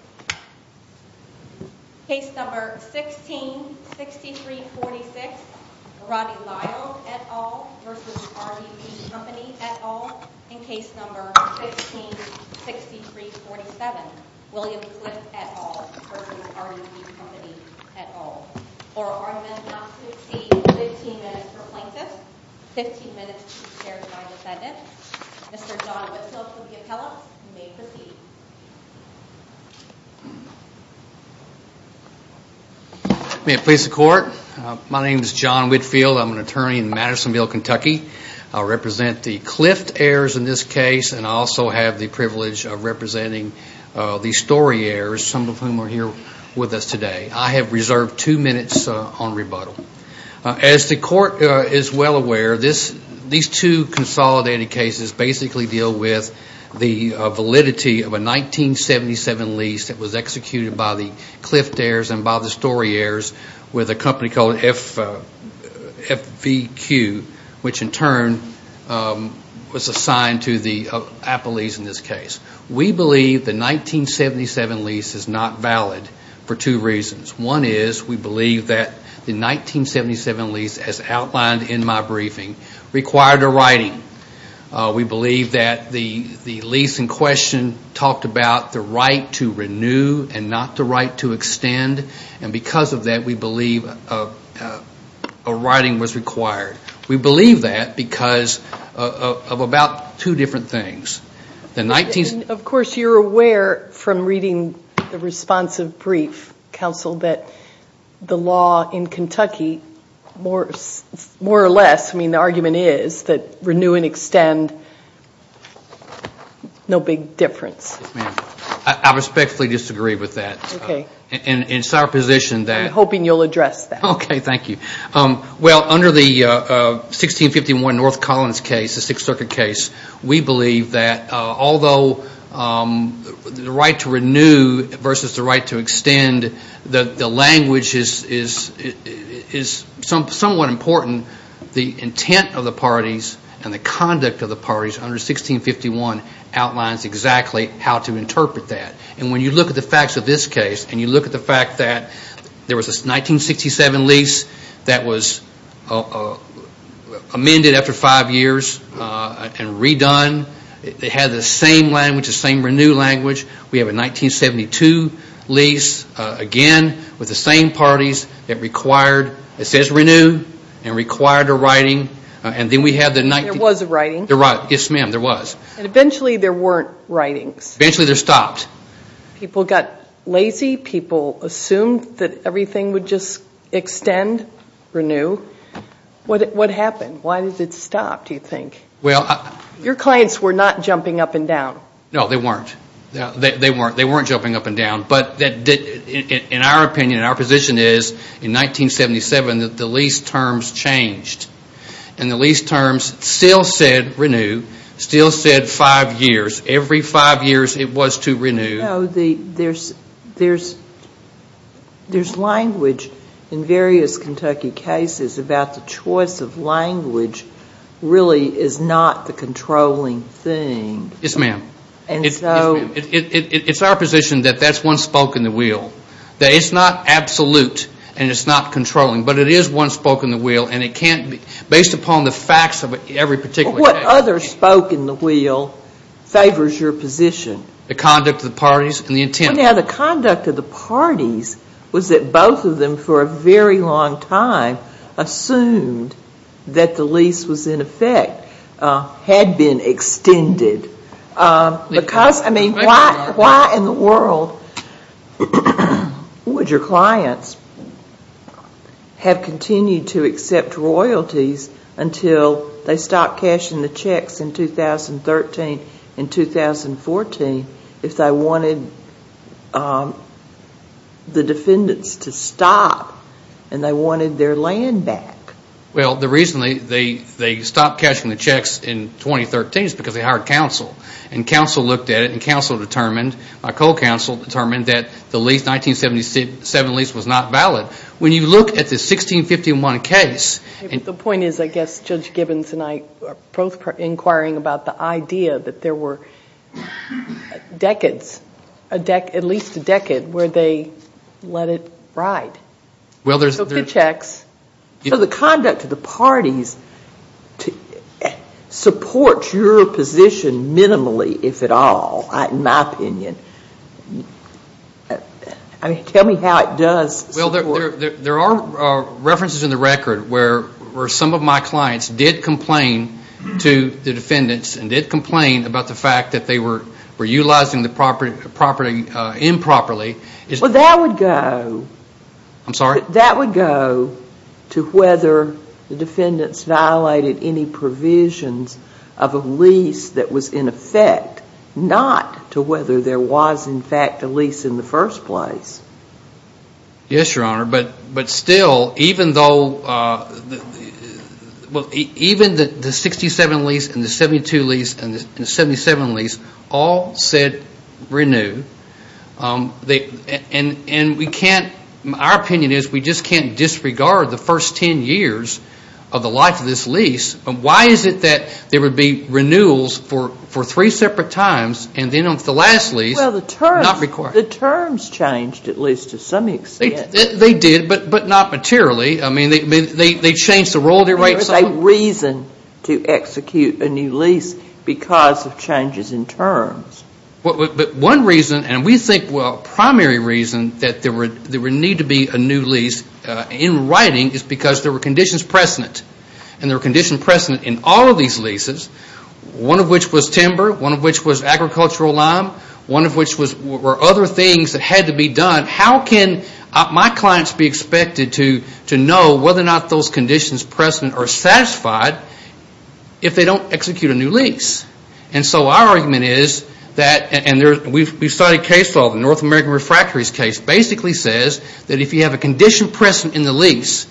at all. In case number 16-6347, William Swift at all versus RDP Company at all. Or are men not to exceed 15 minutes for plaintiffs, 15 minutes to the Chair's nine defendants. Mr. Whitfield. May it please the Court. My name is John Whitfield. I'm an attorney in Madisonville, Kentucky. I represent the Clift heirs in this case and I also have the privilege of representing the Story heirs, some of whom are here with us today. I have reserved two minutes on rebuttal. As the Court is well aware, these two consolidated cases basically deal with the validity of a 1977 lease that was executed by the Clift heirs and by the Story heirs with a company called FVQ, which in turn was assigned to the Appleys in this case. We believe the 1977 lease is not valid for two reasons. One is we believe that the 1977 lease in my briefing required a writing. We believe that the lease in question talked about the right to renew and not the right to extend. And because of that, we believe a writing was required. We believe that because of about two different things. And of course you're aware from reading the responsive brief, counsel, that the law in Kentucky more or less, I mean the argument is, that renew and extend, no big difference. I respectfully disagree with that. Okay. And it's our position that. I'm hoping you'll address that. Okay. Thank you. Well, under the 1651 North Collins case, the Sixth Circuit case, we believe that although the right to renew versus the right to extend, the language is somewhat important. The intent of the parties and the conduct of the parties under 1651 outlines exactly how to that was amended after five years and redone. It had the same language, the same renew language. We have a 1972 lease again with the same parties that required, it says renew, and required a writing. And then we had the. There was a writing? Yes, ma'am, there was. And eventually there weren't writings. Eventually they're stopped. People got lazy. People assumed that everything would just extend, renew. What happened? Why did it stop, do you think? Your clients were not jumping up and down. No, they weren't. They weren't jumping up and down. But in our opinion, in our position is, in 1977 the lease terms changed. And the lease terms still said renew, still said five years. Every five years it was to renew. No, there's language in various Kentucky cases about the choice of language really is not the controlling thing. Yes, ma'am. It's our position that that's one spoke in the wheel. That it's not absolute and it's not controlling. But it is one spoke in the wheel. And it can't be, based upon the facts of every particular case. Well, what other spoke in the wheel favors your position? The conduct of the parties and the intent. Well, now, the conduct of the parties was that both of them for a very long time assumed that the lease was in effect, had been extended. Because, I mean, why in the world would your clients have continued to accept royalties until they stopped cashing in? Why would they stop cashing the checks in 2013 and 2014 if they wanted the defendants to stop and they wanted their land back? Well, the reason they stopped cashing the checks in 2013 is because they hired counsel. And counsel looked at it and counsel determined, my co-counsel determined, that the 1977 lease was not valid. When you look at the 1651 case. The point is, I guess, Judge Gibbons and I are both inquiring about the idea that there were decades, at least a decade, where they let it ride. So good checks. So the conduct of the parties supports your position minimally, if at all, in my opinion. Tell me how it does support it. Well, there are references in the record where some of my clients did complain to the defendants and did complain about the fact that they were utilizing the property improperly. Well, that would go to whether the defendants violated any provisions of a lease that was in effect, not to whether there was, in fact, a lease in the first place. Yes, Your Honor. But still, even though, well, even the 67 lease and the 72 lease and the 77 lease all said renew. And we can't, our opinion is, we just can't disregard the first 10 years of the life of this lease. Why is it that there would be renewals for three separate times and then the last lease not required? The terms changed, at least to some extent. They did, but not materially. I mean, they changed the role. There was a reason to execute a new lease because of changes in terms. But one reason, and we think, well, primary reason that there would need to be a new lease in writing is because there were conditions precedent. And there were conditions precedent in all of these leases, one of which was timber, one of which was agricultural lime, one of which were other things. Those were things that had to be done. How can my clients be expected to know whether or not those conditions precedent are satisfied if they don't execute a new lease? And so our argument is that, and we've studied case law, the North American Refractories case basically says that if you have a condition precedent in the lease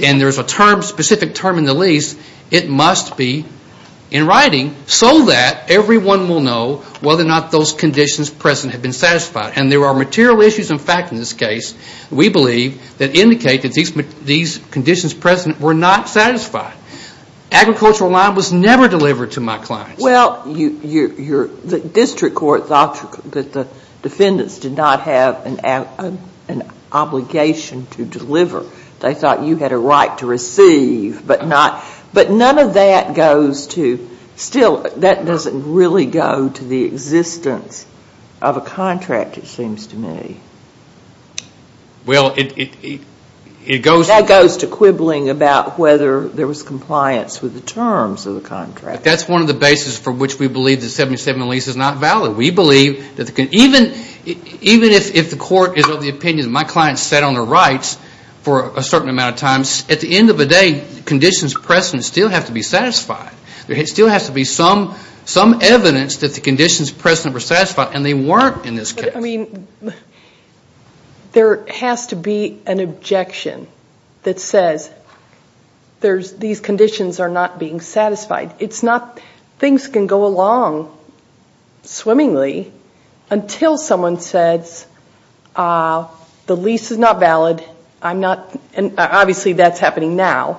and there's a term, specific term in the lease, it must be in writing so that everyone will know whether or not those conditions precedent have been satisfied. And there are material issues, in fact, in this case, we believe, that indicate that these conditions precedent were not satisfied. Agricultural lime was never delivered to my clients. Well, the district court thought that the defendants did not have an obligation to deliver. They thought you had a right to receive, but none of that goes to, still, that doesn't really go to the existence of a contract. That seems to me. That goes to quibbling about whether there was compliance with the terms of the contract. That's one of the basis for which we believe the 77 lease is not valid. Even if the court is of the opinion that my client sat on the rights for a certain amount of time, at the end of the day, conditions precedent still have to be satisfied. There still has to be some evidence that the conditions precedent were satisfied, and they weren't in this case. There has to be an objection that says these conditions are not being satisfied. It's not, things can go along swimmingly, until someone says, the lease is not valid, obviously that's happening now.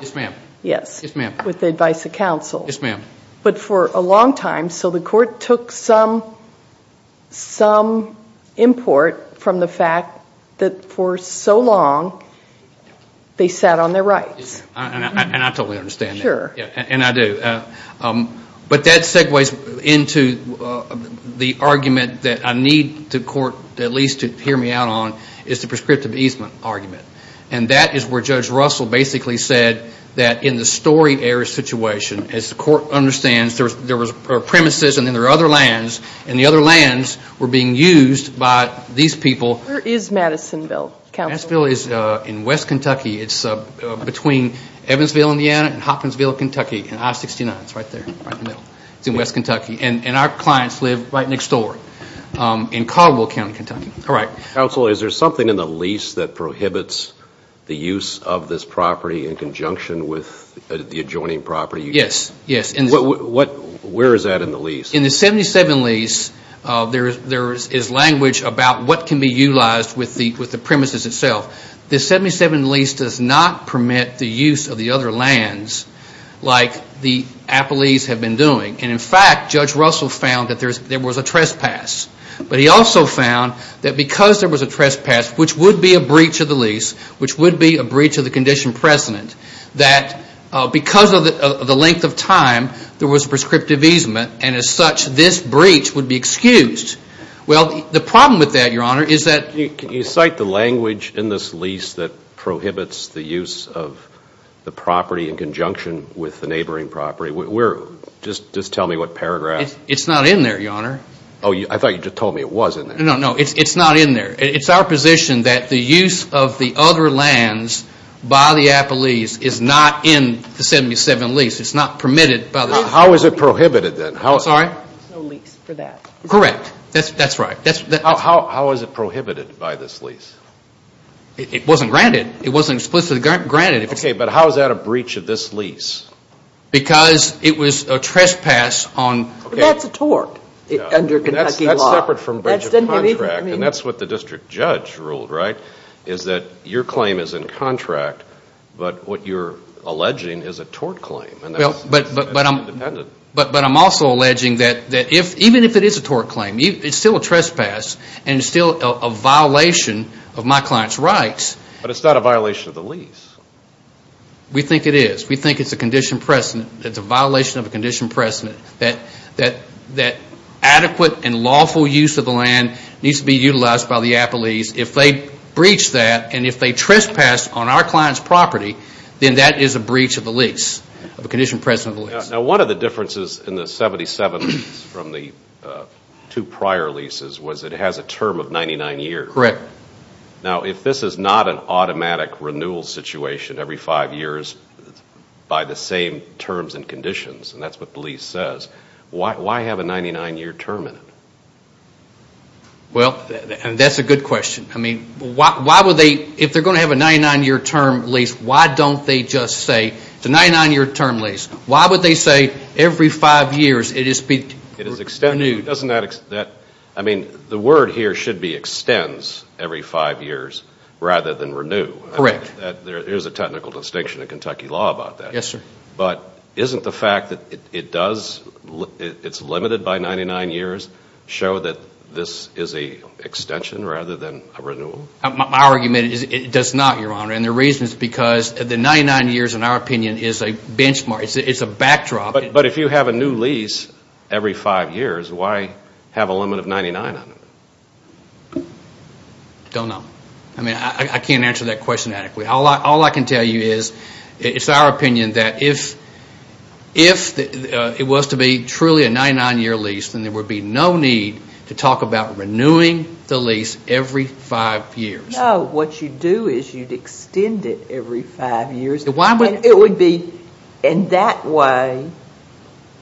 Yes, ma'am. With the advice of counsel. Yes, ma'am. But for a long time, so the court took some import from the fact that for so long, they sat on their rights. And I totally understand that. Sure. And I do. But that segues into the argument that I need the court at least to hear me out on, is the prescriptive easement argument. And that is where Judge Russell basically said that in the story error situation, as the court understood it, there was no reason for the defendant to sit on the lease. There were premises, and then there were other lands, and the other lands were being used by these people. Where is Madisonville, counsel? Madisonville is in West Kentucky. It's between Evansville, Indiana, and Hopkinsville, Kentucky, in I-69. It's right there, right in the middle. It's in West Kentucky. And our clients live right next door, in Caldwell County, Kentucky. All right. Counsel, is there something in the lease that prohibits the use of this property in conjunction with the adjoining property? Yes. Yes. And what would that be? Where is that in the lease? In the 77 lease, there is language about what can be utilized with the premises itself. The 77 lease does not permit the use of the other lands like the Appalachians have been doing. And in fact, Judge Russell found that there was a trespass. But he also found that because there was a trespass, which would be a breach of the lease, which would be a breach of the condition precedent, that because of the length of time, there would be a breach of the condition precedent. There was a prescriptive easement. And as such, this breach would be excused. Well, the problem with that, Your Honor, is that... Can you cite the language in this lease that prohibits the use of the property in conjunction with the neighboring property? Just tell me what paragraph... It's not in there, Your Honor. Oh, I thought you just told me it was in there. No, no. It's not in there. It's our position that the use of the other lands by the Appalachians is not in the 77 lease. It's not permitted by the... How is it prohibited then? I'm sorry? There's no lease for that. Correct. That's right. How is it prohibited by this lease? It wasn't granted. It wasn't explicitly granted. Okay, but how is that a breach of this lease? Because it was a trespass on... But that's a tort under Kentucky law. That's separate from breach of contract. And that's what the district judge ruled, right? Is that your claim is in contract, but what you're alleging is a tort claim. But I'm also alleging that even if it is a tort claim, it's still a trespass and still a violation of my client's rights. But it's not a violation of the lease. We think it is. We think it's a condition precedent. It's a violation of a condition precedent that adequate and lawful use of the land needs to be utilized by the Appalachians. If they breach that and if they trespass on our client's property, then that is a breach of the lease. Now, one of the differences in the 77 from the two prior leases was it has a term of 99 years. Correct. Now, if this is not an automatic renewal situation every five years by the same terms and conditions, and that's what the lease says, why have a 99-year term in it? Well, that's a good question. I mean, if they're going to have a 99-year term lease, why don't they just say it's a 99-year term lease? Why would they say every five years it is renewed? I mean, the word here should be extends every five years rather than renew. Correct. There is a technical distinction in Kentucky law about that. Yes, sir. But isn't the fact that it's limited by 99 years show that this is an extension rather than a renewal? My argument is it does not, Your Honor, and the reason is because the 99 years, in our opinion, is a benchmark. It's a backdrop. But if you have a new lease every five years, why have a limit of 99 on it? Don't know. I mean, I can't answer that question adequately. All I can tell you is it's our opinion that if it was to be truly a 99-year lease, then there would be no need to talk about renewing the lease every five years. No, what you do is you'd extend it every five years. And that way,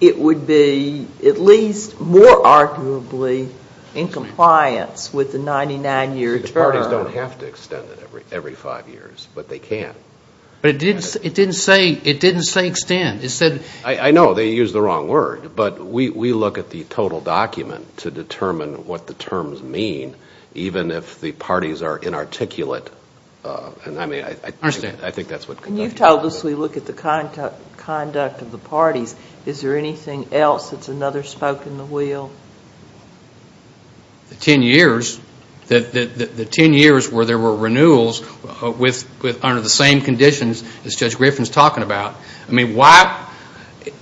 it would be at least more arguably in compliance with the 99-year term. The parties don't have to extend it every five years, but they can. But it didn't say extend. It said... I know they used the wrong word, but we look at the total document to determine what the terms mean, even if the parties are inarticulate. I understand. I think that's what... You've told us we look at the conduct of the parties. Is there anything else that's another spoke in the wheel? The ten years where there were renewals under the same conditions as Judge Griffin's talking about. I mean, why...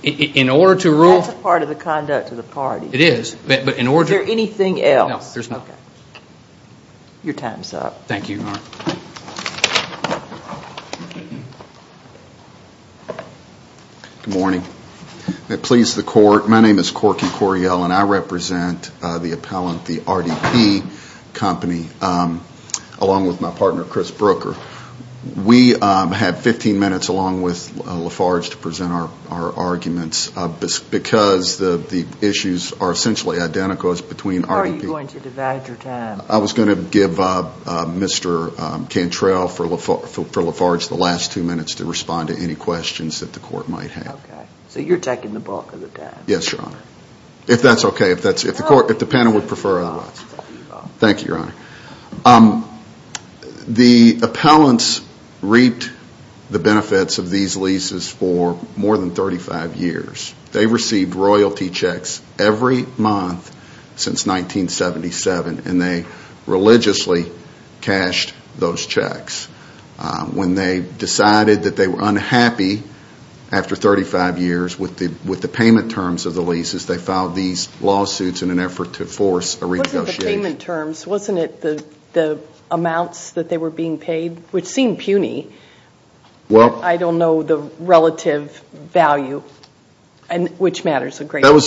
That's a part of the conduct of the parties. It is. Is there anything else? No, there's not. Thank you, Your Honor. Thank you. Good morning. May it please the Court, my name is Corky Coriell, and I represent the appellant, the RDP company, along with my partner, Chris Brooker. We have 15 minutes, along with Lafarge, to present our arguments because the issues are essentially identical as between RDP... How are you going to divide your time? I was going to give Mr. Cantrell for Lafarge the last two minutes to respond to any questions that the Court might have. Okay. So you're taking the bulk of the time. Yes, Your Honor. If that's okay. If the panel would prefer... No, it's fine. Thank you, Your Honor. The appellants reaped the benefits of these leases for more than 35 years. They received royalty checks every month since 1977, and they religiously cashed those checks. When they decided that they were unhappy after 35 years with the payment terms of the leases, they filed these lawsuits in an effort to force a renegotiation. Wasn't it the payment terms? Wasn't it the amounts that they were being paid? Which seemed puny. Well... I don't know the relative value. Which matters a great deal.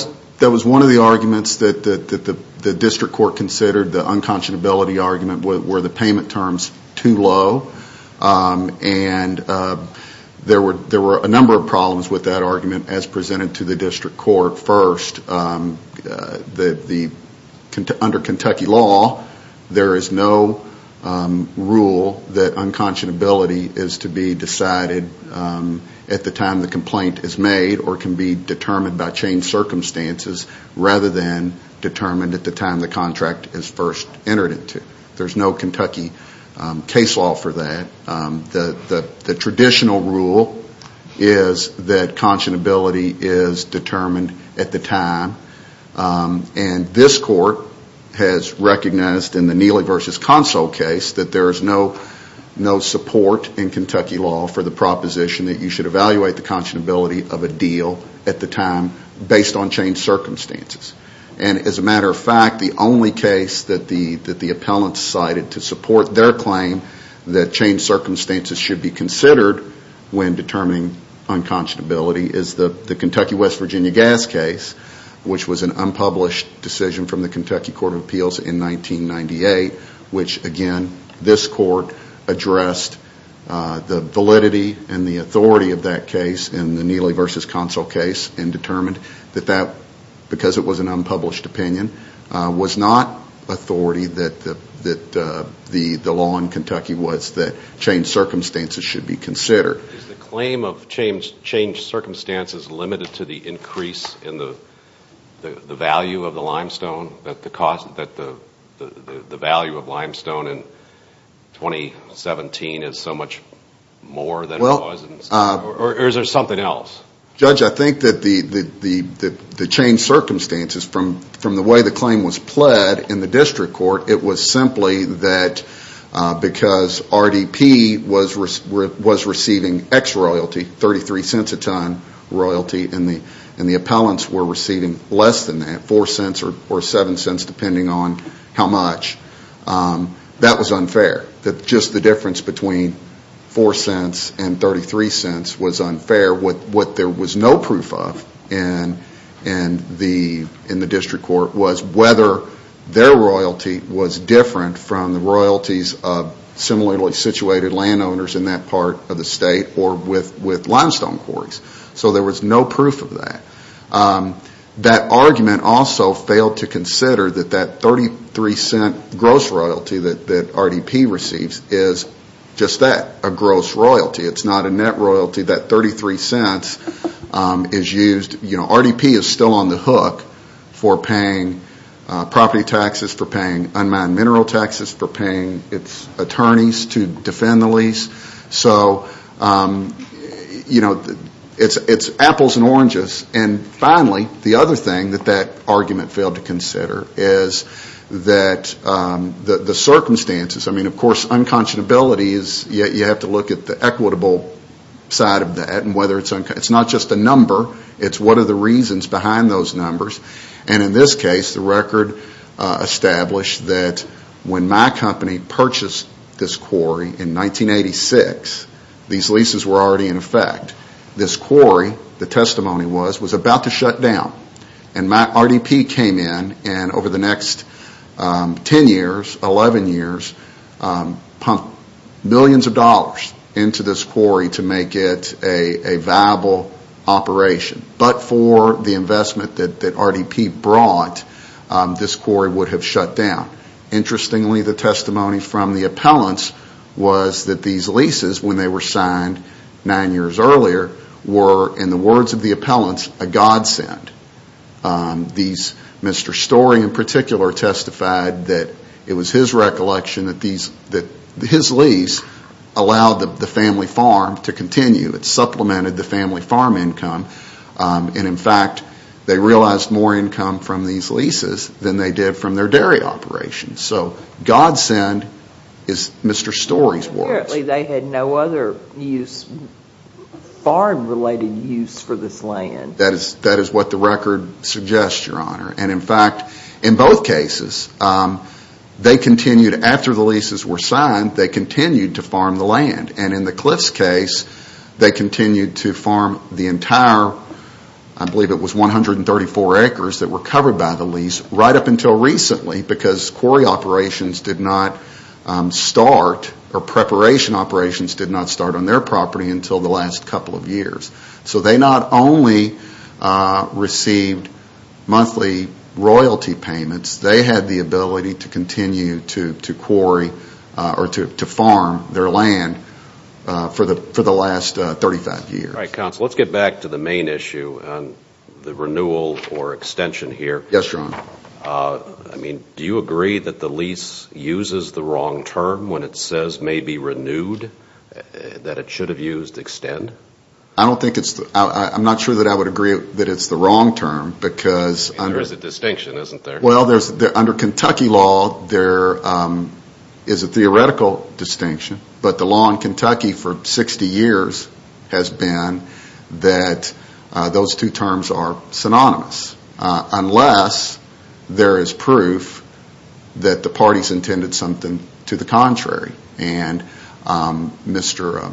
That was one of the arguments that the District Court considered, the unconscionability argument, were the payment terms too low. And there were a number of problems with that argument as presented to the District Court. First, under Kentucky law, there is no rule that unconscionability is to be decided at the time the complaint is made, or can be determined by changed circumstances, rather than determined at the time the contract is first entered into. There's no Kentucky case law for that. The traditional rule is that unconscionability is determined at the time, and this Court has recognized in the Neely v. Consul case that there is no support in Kentucky law for the proposition that you should evaluate the unconscionability of a deal at the time based on changed circumstances. And as a matter of fact, the only case that the appellants cited to support their claim that changed circumstances should be considered when determining unconscionability is the Kentucky West Virginia Gas case, which was an unpublished decision from the Kentucky Court of Appeals in 1998, which again, this Court addressed the validity and the authority of that case in the Neely v. Consul case and determined that that, because it was an unpublished opinion, was not authority, that the law in Kentucky was that changed circumstances should be considered. Is the claim of changed circumstances limited to the increase in the value of the limestone, that the value of limestone in 2017 is so much more than it was? Or is there something else? Judge, I think that the changed circumstances, from the way the claim was pled in the district court, it was simply that because RDP was receiving X royalty, 33 cents a ton royalty, and the appellants were receiving less than that, 4 cents or 7 cents depending on how much, that was unfair. Just the difference between 4 cents and 33 cents was unfair. What there was no proof of in the district court was whether their royalty was different from the royalties of similarly situated landowners in that part of the state or with limestone quarries. So there was no proof of that. That argument also failed to consider that that 33 cent gross royalty that RDP receives is just that, a gross royalty. It's not a net royalty. That 33 cents is used. RDP is still on the hook for paying property taxes, for paying unmanned mineral taxes, for paying its attorneys to defend the lease. So it's apples and oranges. And finally, the other thing that that argument failed to consider is the circumstances. Of course, unconscionability, you have to look at the equitable side of that. It's not just a number. It's what are the reasons behind those numbers. And in this case, the record established that when my company purchased this quarry in 1986, these leases were already in effect. This quarry, the testimony was, was about to shut down. And RDP came in and over the next 10 years, 11 years, pumped millions of dollars into this quarry to make it a viable operation. But for the investment that RDP brought, this quarry would have shut down. Interestingly, the testimony from the appellants was that these leases, when they were signed nine years earlier, were, in the words of the appellants, a godsend. Mr. Story in particular testified that it was his recollection that his lease allowed the family farm to continue. It supplemented the family farm income. And in fact, they realized more income from these leases than they did from their dairy operations. So godsend is Mr. Story's words. Apparently they had no other use, farm-related use for this land. That is what the record suggests, Your Honor. And in fact, in both cases, they continued, after the leases were signed, they continued to farm the land. And in the Cliffs case, they continued to farm the entire, I believe it was 134 acres that were covered by the lease, right up until recently because quarry operations did not start, or preparation operations did not start on their property until the last couple of years. So they not only received monthly royalty payments, they had the ability to continue to quarry or to farm their land for the last 35 years. All right, counsel, let's get back to the main issue, the renewal or extension here. Yes, Your Honor. I mean, do you agree that the lease uses the wrong term when it says maybe renewed, that it should have used extend? I don't think it's, I'm not sure that I would agree that it's the wrong term because There's a distinction, isn't there? Well, under Kentucky law, there is a theoretical distinction, but the law in Kentucky for 60 years has been that those two terms are synonymous, unless there is proof that the parties intended something to the contrary. And Mr.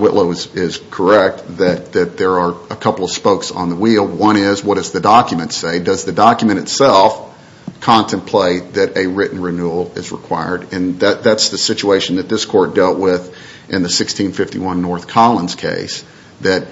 Whitlow is correct that there are a couple of spokes on the wheel. One is, what does the document say? Does the document itself contemplate that a written renewal is required? And that's the situation that this court dealt with in the 1651 North Collins case. The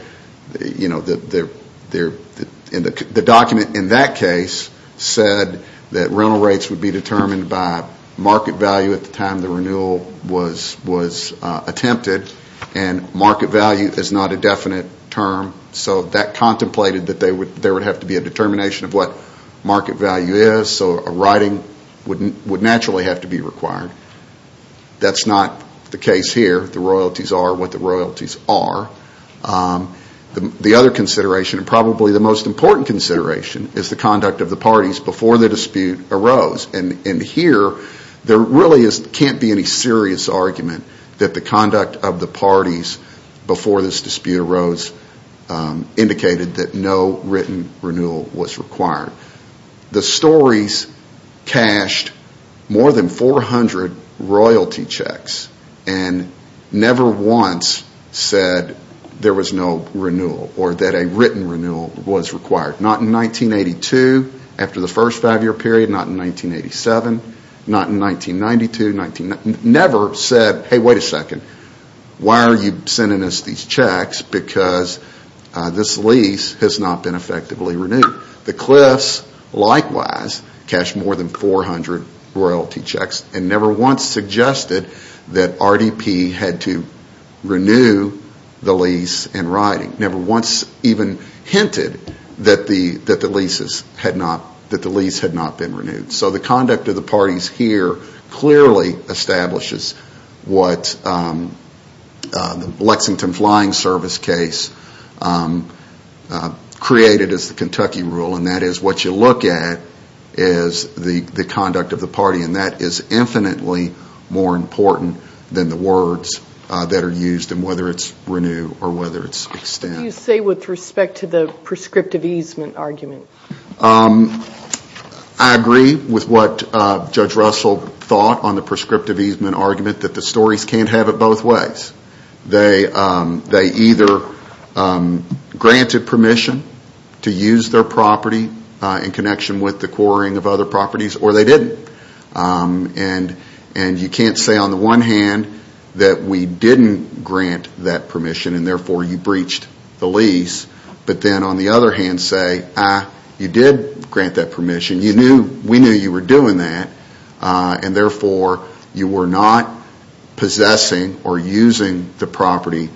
document in that case said that rental rates would be determined by market value at the time the renewal was attempted, and market value is not a definite term. So that contemplated that there would have to be a determination of what market value is, so a writing would naturally have to be required. That's not the case here. The royalties are what the royalties are. The other consideration, and probably the most important consideration, is the conduct of the parties before the dispute arose. And here, there really can't be any serious argument that the conduct of the parties before this dispute arose indicated that no written renewal was required. The stories cashed more than 400 royalty checks and never once said there was no renewal or that a written renewal was required. Not in 1982, after the first five-year period. Not in 1987. Not in 1992. Never said, hey, wait a second, why are you sending us these checks? Because this lease has not been effectively renewed. The Cliffs, likewise, cashed more than 400 royalty checks and never once suggested that RDP had to renew the lease in writing. Never once even hinted that the lease had not been renewed. So the conduct of the parties here clearly establishes what the Lexington Flying Service case created as the Kentucky rule, and that is what you look at is the conduct of the party. And that is infinitely more important than the words that are used, and whether it's renew or whether it's extend. What do you say with respect to the prescriptive easement argument? I agree with what Judge Russell thought on the prescriptive easement argument that the stories can't have it both ways. They either granted permission to use their property in connection with the quarrying of other properties, or they didn't. And you can't say on the one hand that we didn't grant that permission and therefore you breached the lease, but then on the other hand say, ah, you did grant that permission. We knew you were doing that, and therefore you were not possessing or using the property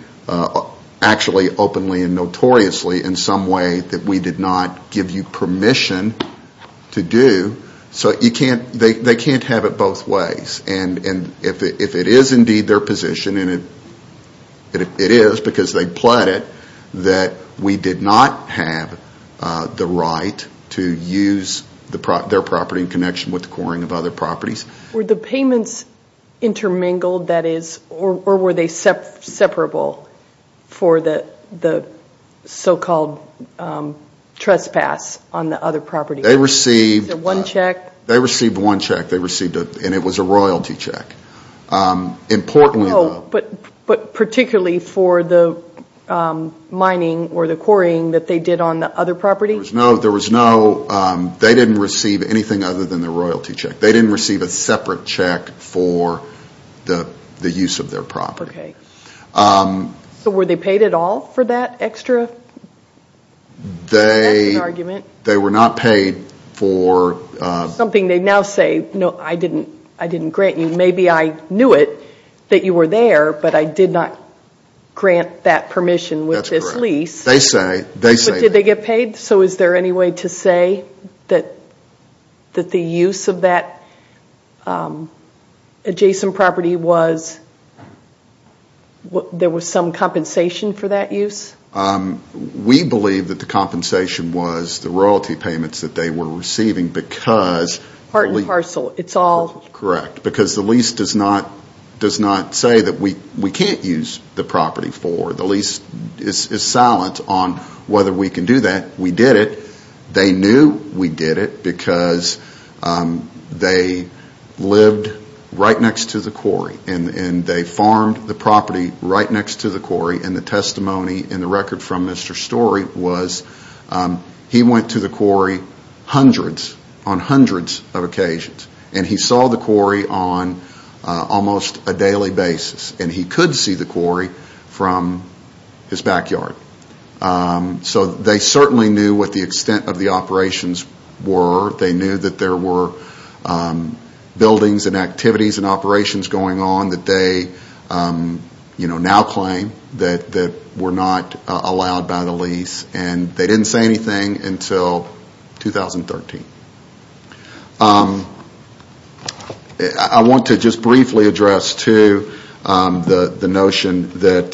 actually openly and notoriously in some way that we did not give you permission to do. So they can't have it both ways. And if it is indeed their position, and it is because they pled it, that we did not have the right to use their property in connection with the quarrying of other properties. Were the payments intermingled, that is, or were they separable for the so-called trespass on the other property? They received one check, and it was a royalty check. Oh, but particularly for the mining or the quarrying that they did on the other property? There was no, they didn't receive anything other than the royalty check. They didn't receive a separate check for the use of their property. Okay. So were they paid at all for that extra? That's an argument. They were not paid for... It's something they now say, no, I didn't grant you. Maybe I knew it, that you were there, but I did not grant that permission with this lease. That's correct. They say that. But did they get paid? So is there any way to say that the use of that adjacent property was, there was some compensation for that use? We believe that the compensation was the royalty payments that they were receiving because... Part and parcel, it's all... Correct, because the lease does not say that we can't use the property for. The lease is silent on whether we can do that. We did it. They knew we did it because they lived right next to the quarry, and they farmed the property right next to the quarry, and the testimony in the record from Mr. Storey was, he went to the quarry hundreds, on hundreds of occasions, and he saw the quarry on almost a daily basis, and he could see the quarry from his backyard. So they certainly knew what the extent of the operations were. They knew that there were buildings and activities and operations going on that they now claim that were not allowed by the lease, and they didn't say anything until 2013. I want to just briefly address, too, the notion that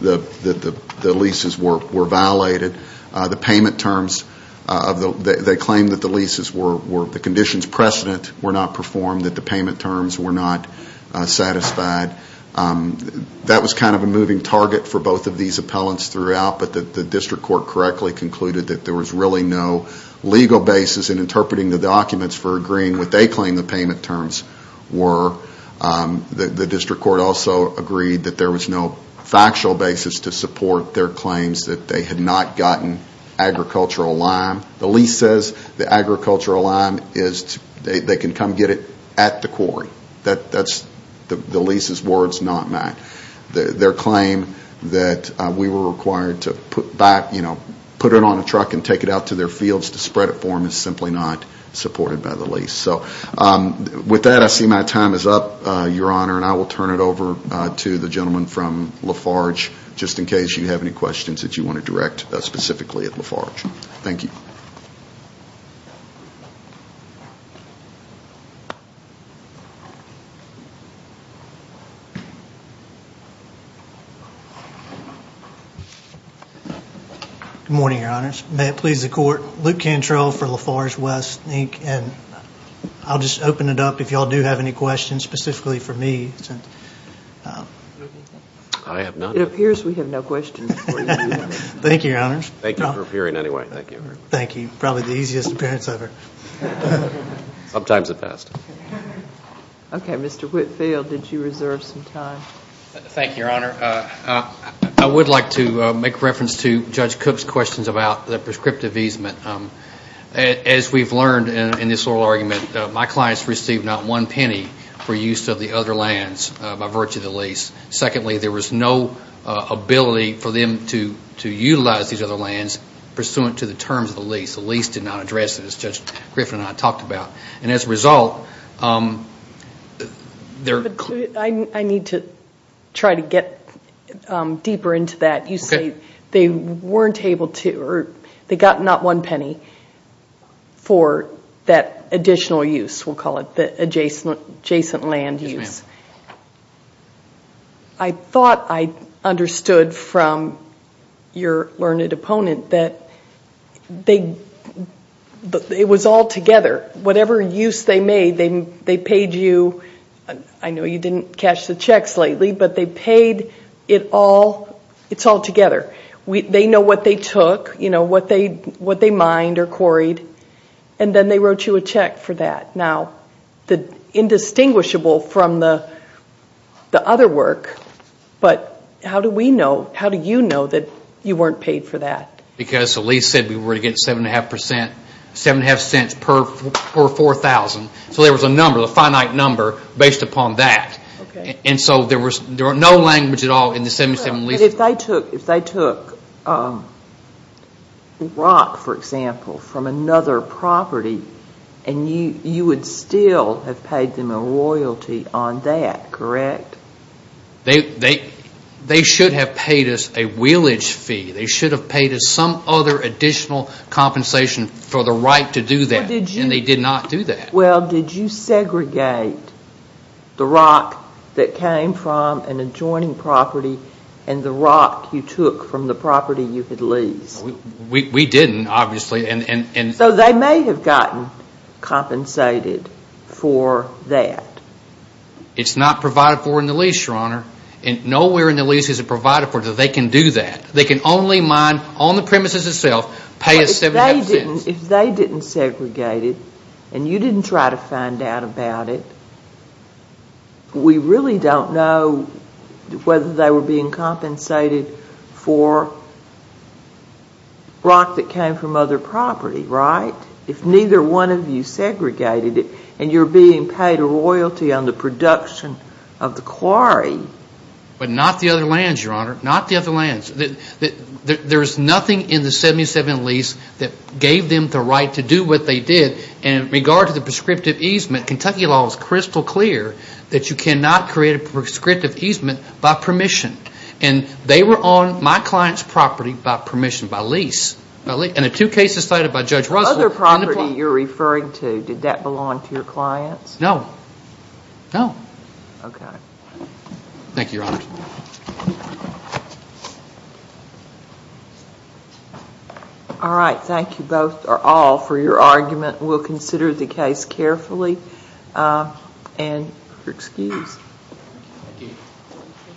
the leases were violated. The payment terms, they claim that the leases were, the conditions precedent were not performed, that the payment terms were not satisfied. That was kind of a moving target for both of these appellants throughout, but the district court correctly concluded that there was really no legal basis in interpreting the documents for agreeing what they claim the payment terms were. The district court also agreed that there was no factual basis to support their claims that they had not gotten agricultural lime. The lease says the agricultural lime is, they can come get it at the quarry. That's the lease's words, not mine. Their claim that we were required to put it on a truck and take it out to their fields to spread it for them is simply not supported by the lease. So with that, I see my time is up, Your Honor, and I will turn it over to the gentleman from Lafarge, just in case you have any questions that you want to direct specifically at Lafarge. Thank you. Good morning, Your Honors. May it please the Court, Luke Cantrell for Lafarge West, Inc., and I'll just open it up if you all do have any questions specifically for me. I have none. It appears we have no questions for you. Thank you, Your Honors. Thank you for appearing anyway. Thank you. Thank you. Probably the easiest appearance ever. Sometimes it passed. Okay. Mr. Whitfield, did you reserve some time? Thank you, Your Honor. I would like to make reference to Judge Cook's questions about the prescriptive easement. As we've learned in this oral argument, my clients received not one penny for use of the other lands by virtue of the lease. Secondly, there was no ability for them to utilize these other lands pursuant to the terms of the lease. The lease did not address it, as Judge Griffin and I talked about. And as a result, there... I need to try to get deeper into that. You say they weren't able to or they got not one penny for that additional use, we'll call it the adjacent land use. Yes, ma'am. I thought I understood from your learned opponent that it was all together. Whatever use they made, they paid you. I know you didn't cash the checks lately, but they paid it all. It's all together. They know what they took, what they mined or quarried, and then they wrote you a check for that. Now, indistinguishable from the other work, but how do we know, how do you know that you weren't paid for that? Because the lease said we were going to get 7.5 cents per 4,000. So there was a number, a finite number based upon that. And so there was no language at all in the 77 lease. But if they took rock, for example, from another property, you would still have paid them a royalty on that, correct? They should have paid us a wheelage fee. They should have paid us some other additional compensation for the right to do that, and they did not do that. Well, did you segregate the rock that came from an adjoining property and the rock you took from the property you had leased? We didn't, obviously. So they may have gotten compensated for that. It's not provided for in the lease, Your Honor. Nowhere in the lease is it provided for that they can do that. They can only mine on the premises itself, pay us 7.5 cents. If they didn't segregate it and you didn't try to find out about it, we really don't know whether they were being compensated for rock that came from other property, right? If neither one of you segregated it and you're being paid a royalty on the production of the quarry. But not the other lands, Your Honor. Not the other lands. There's nothing in the 77 lease that gave them the right to do what they did. And in regard to the prescriptive easement, Kentucky law is crystal clear that you cannot create a prescriptive easement by permission. And they were on my client's property by permission, by lease. And the two cases cited by Judge Russell. The other property you're referring to, did that belong to your clients? No. Okay. Thank you, Your Honor. Thank you. All right. Thank you both or all for your argument. We'll consider the case carefully. And you're excused.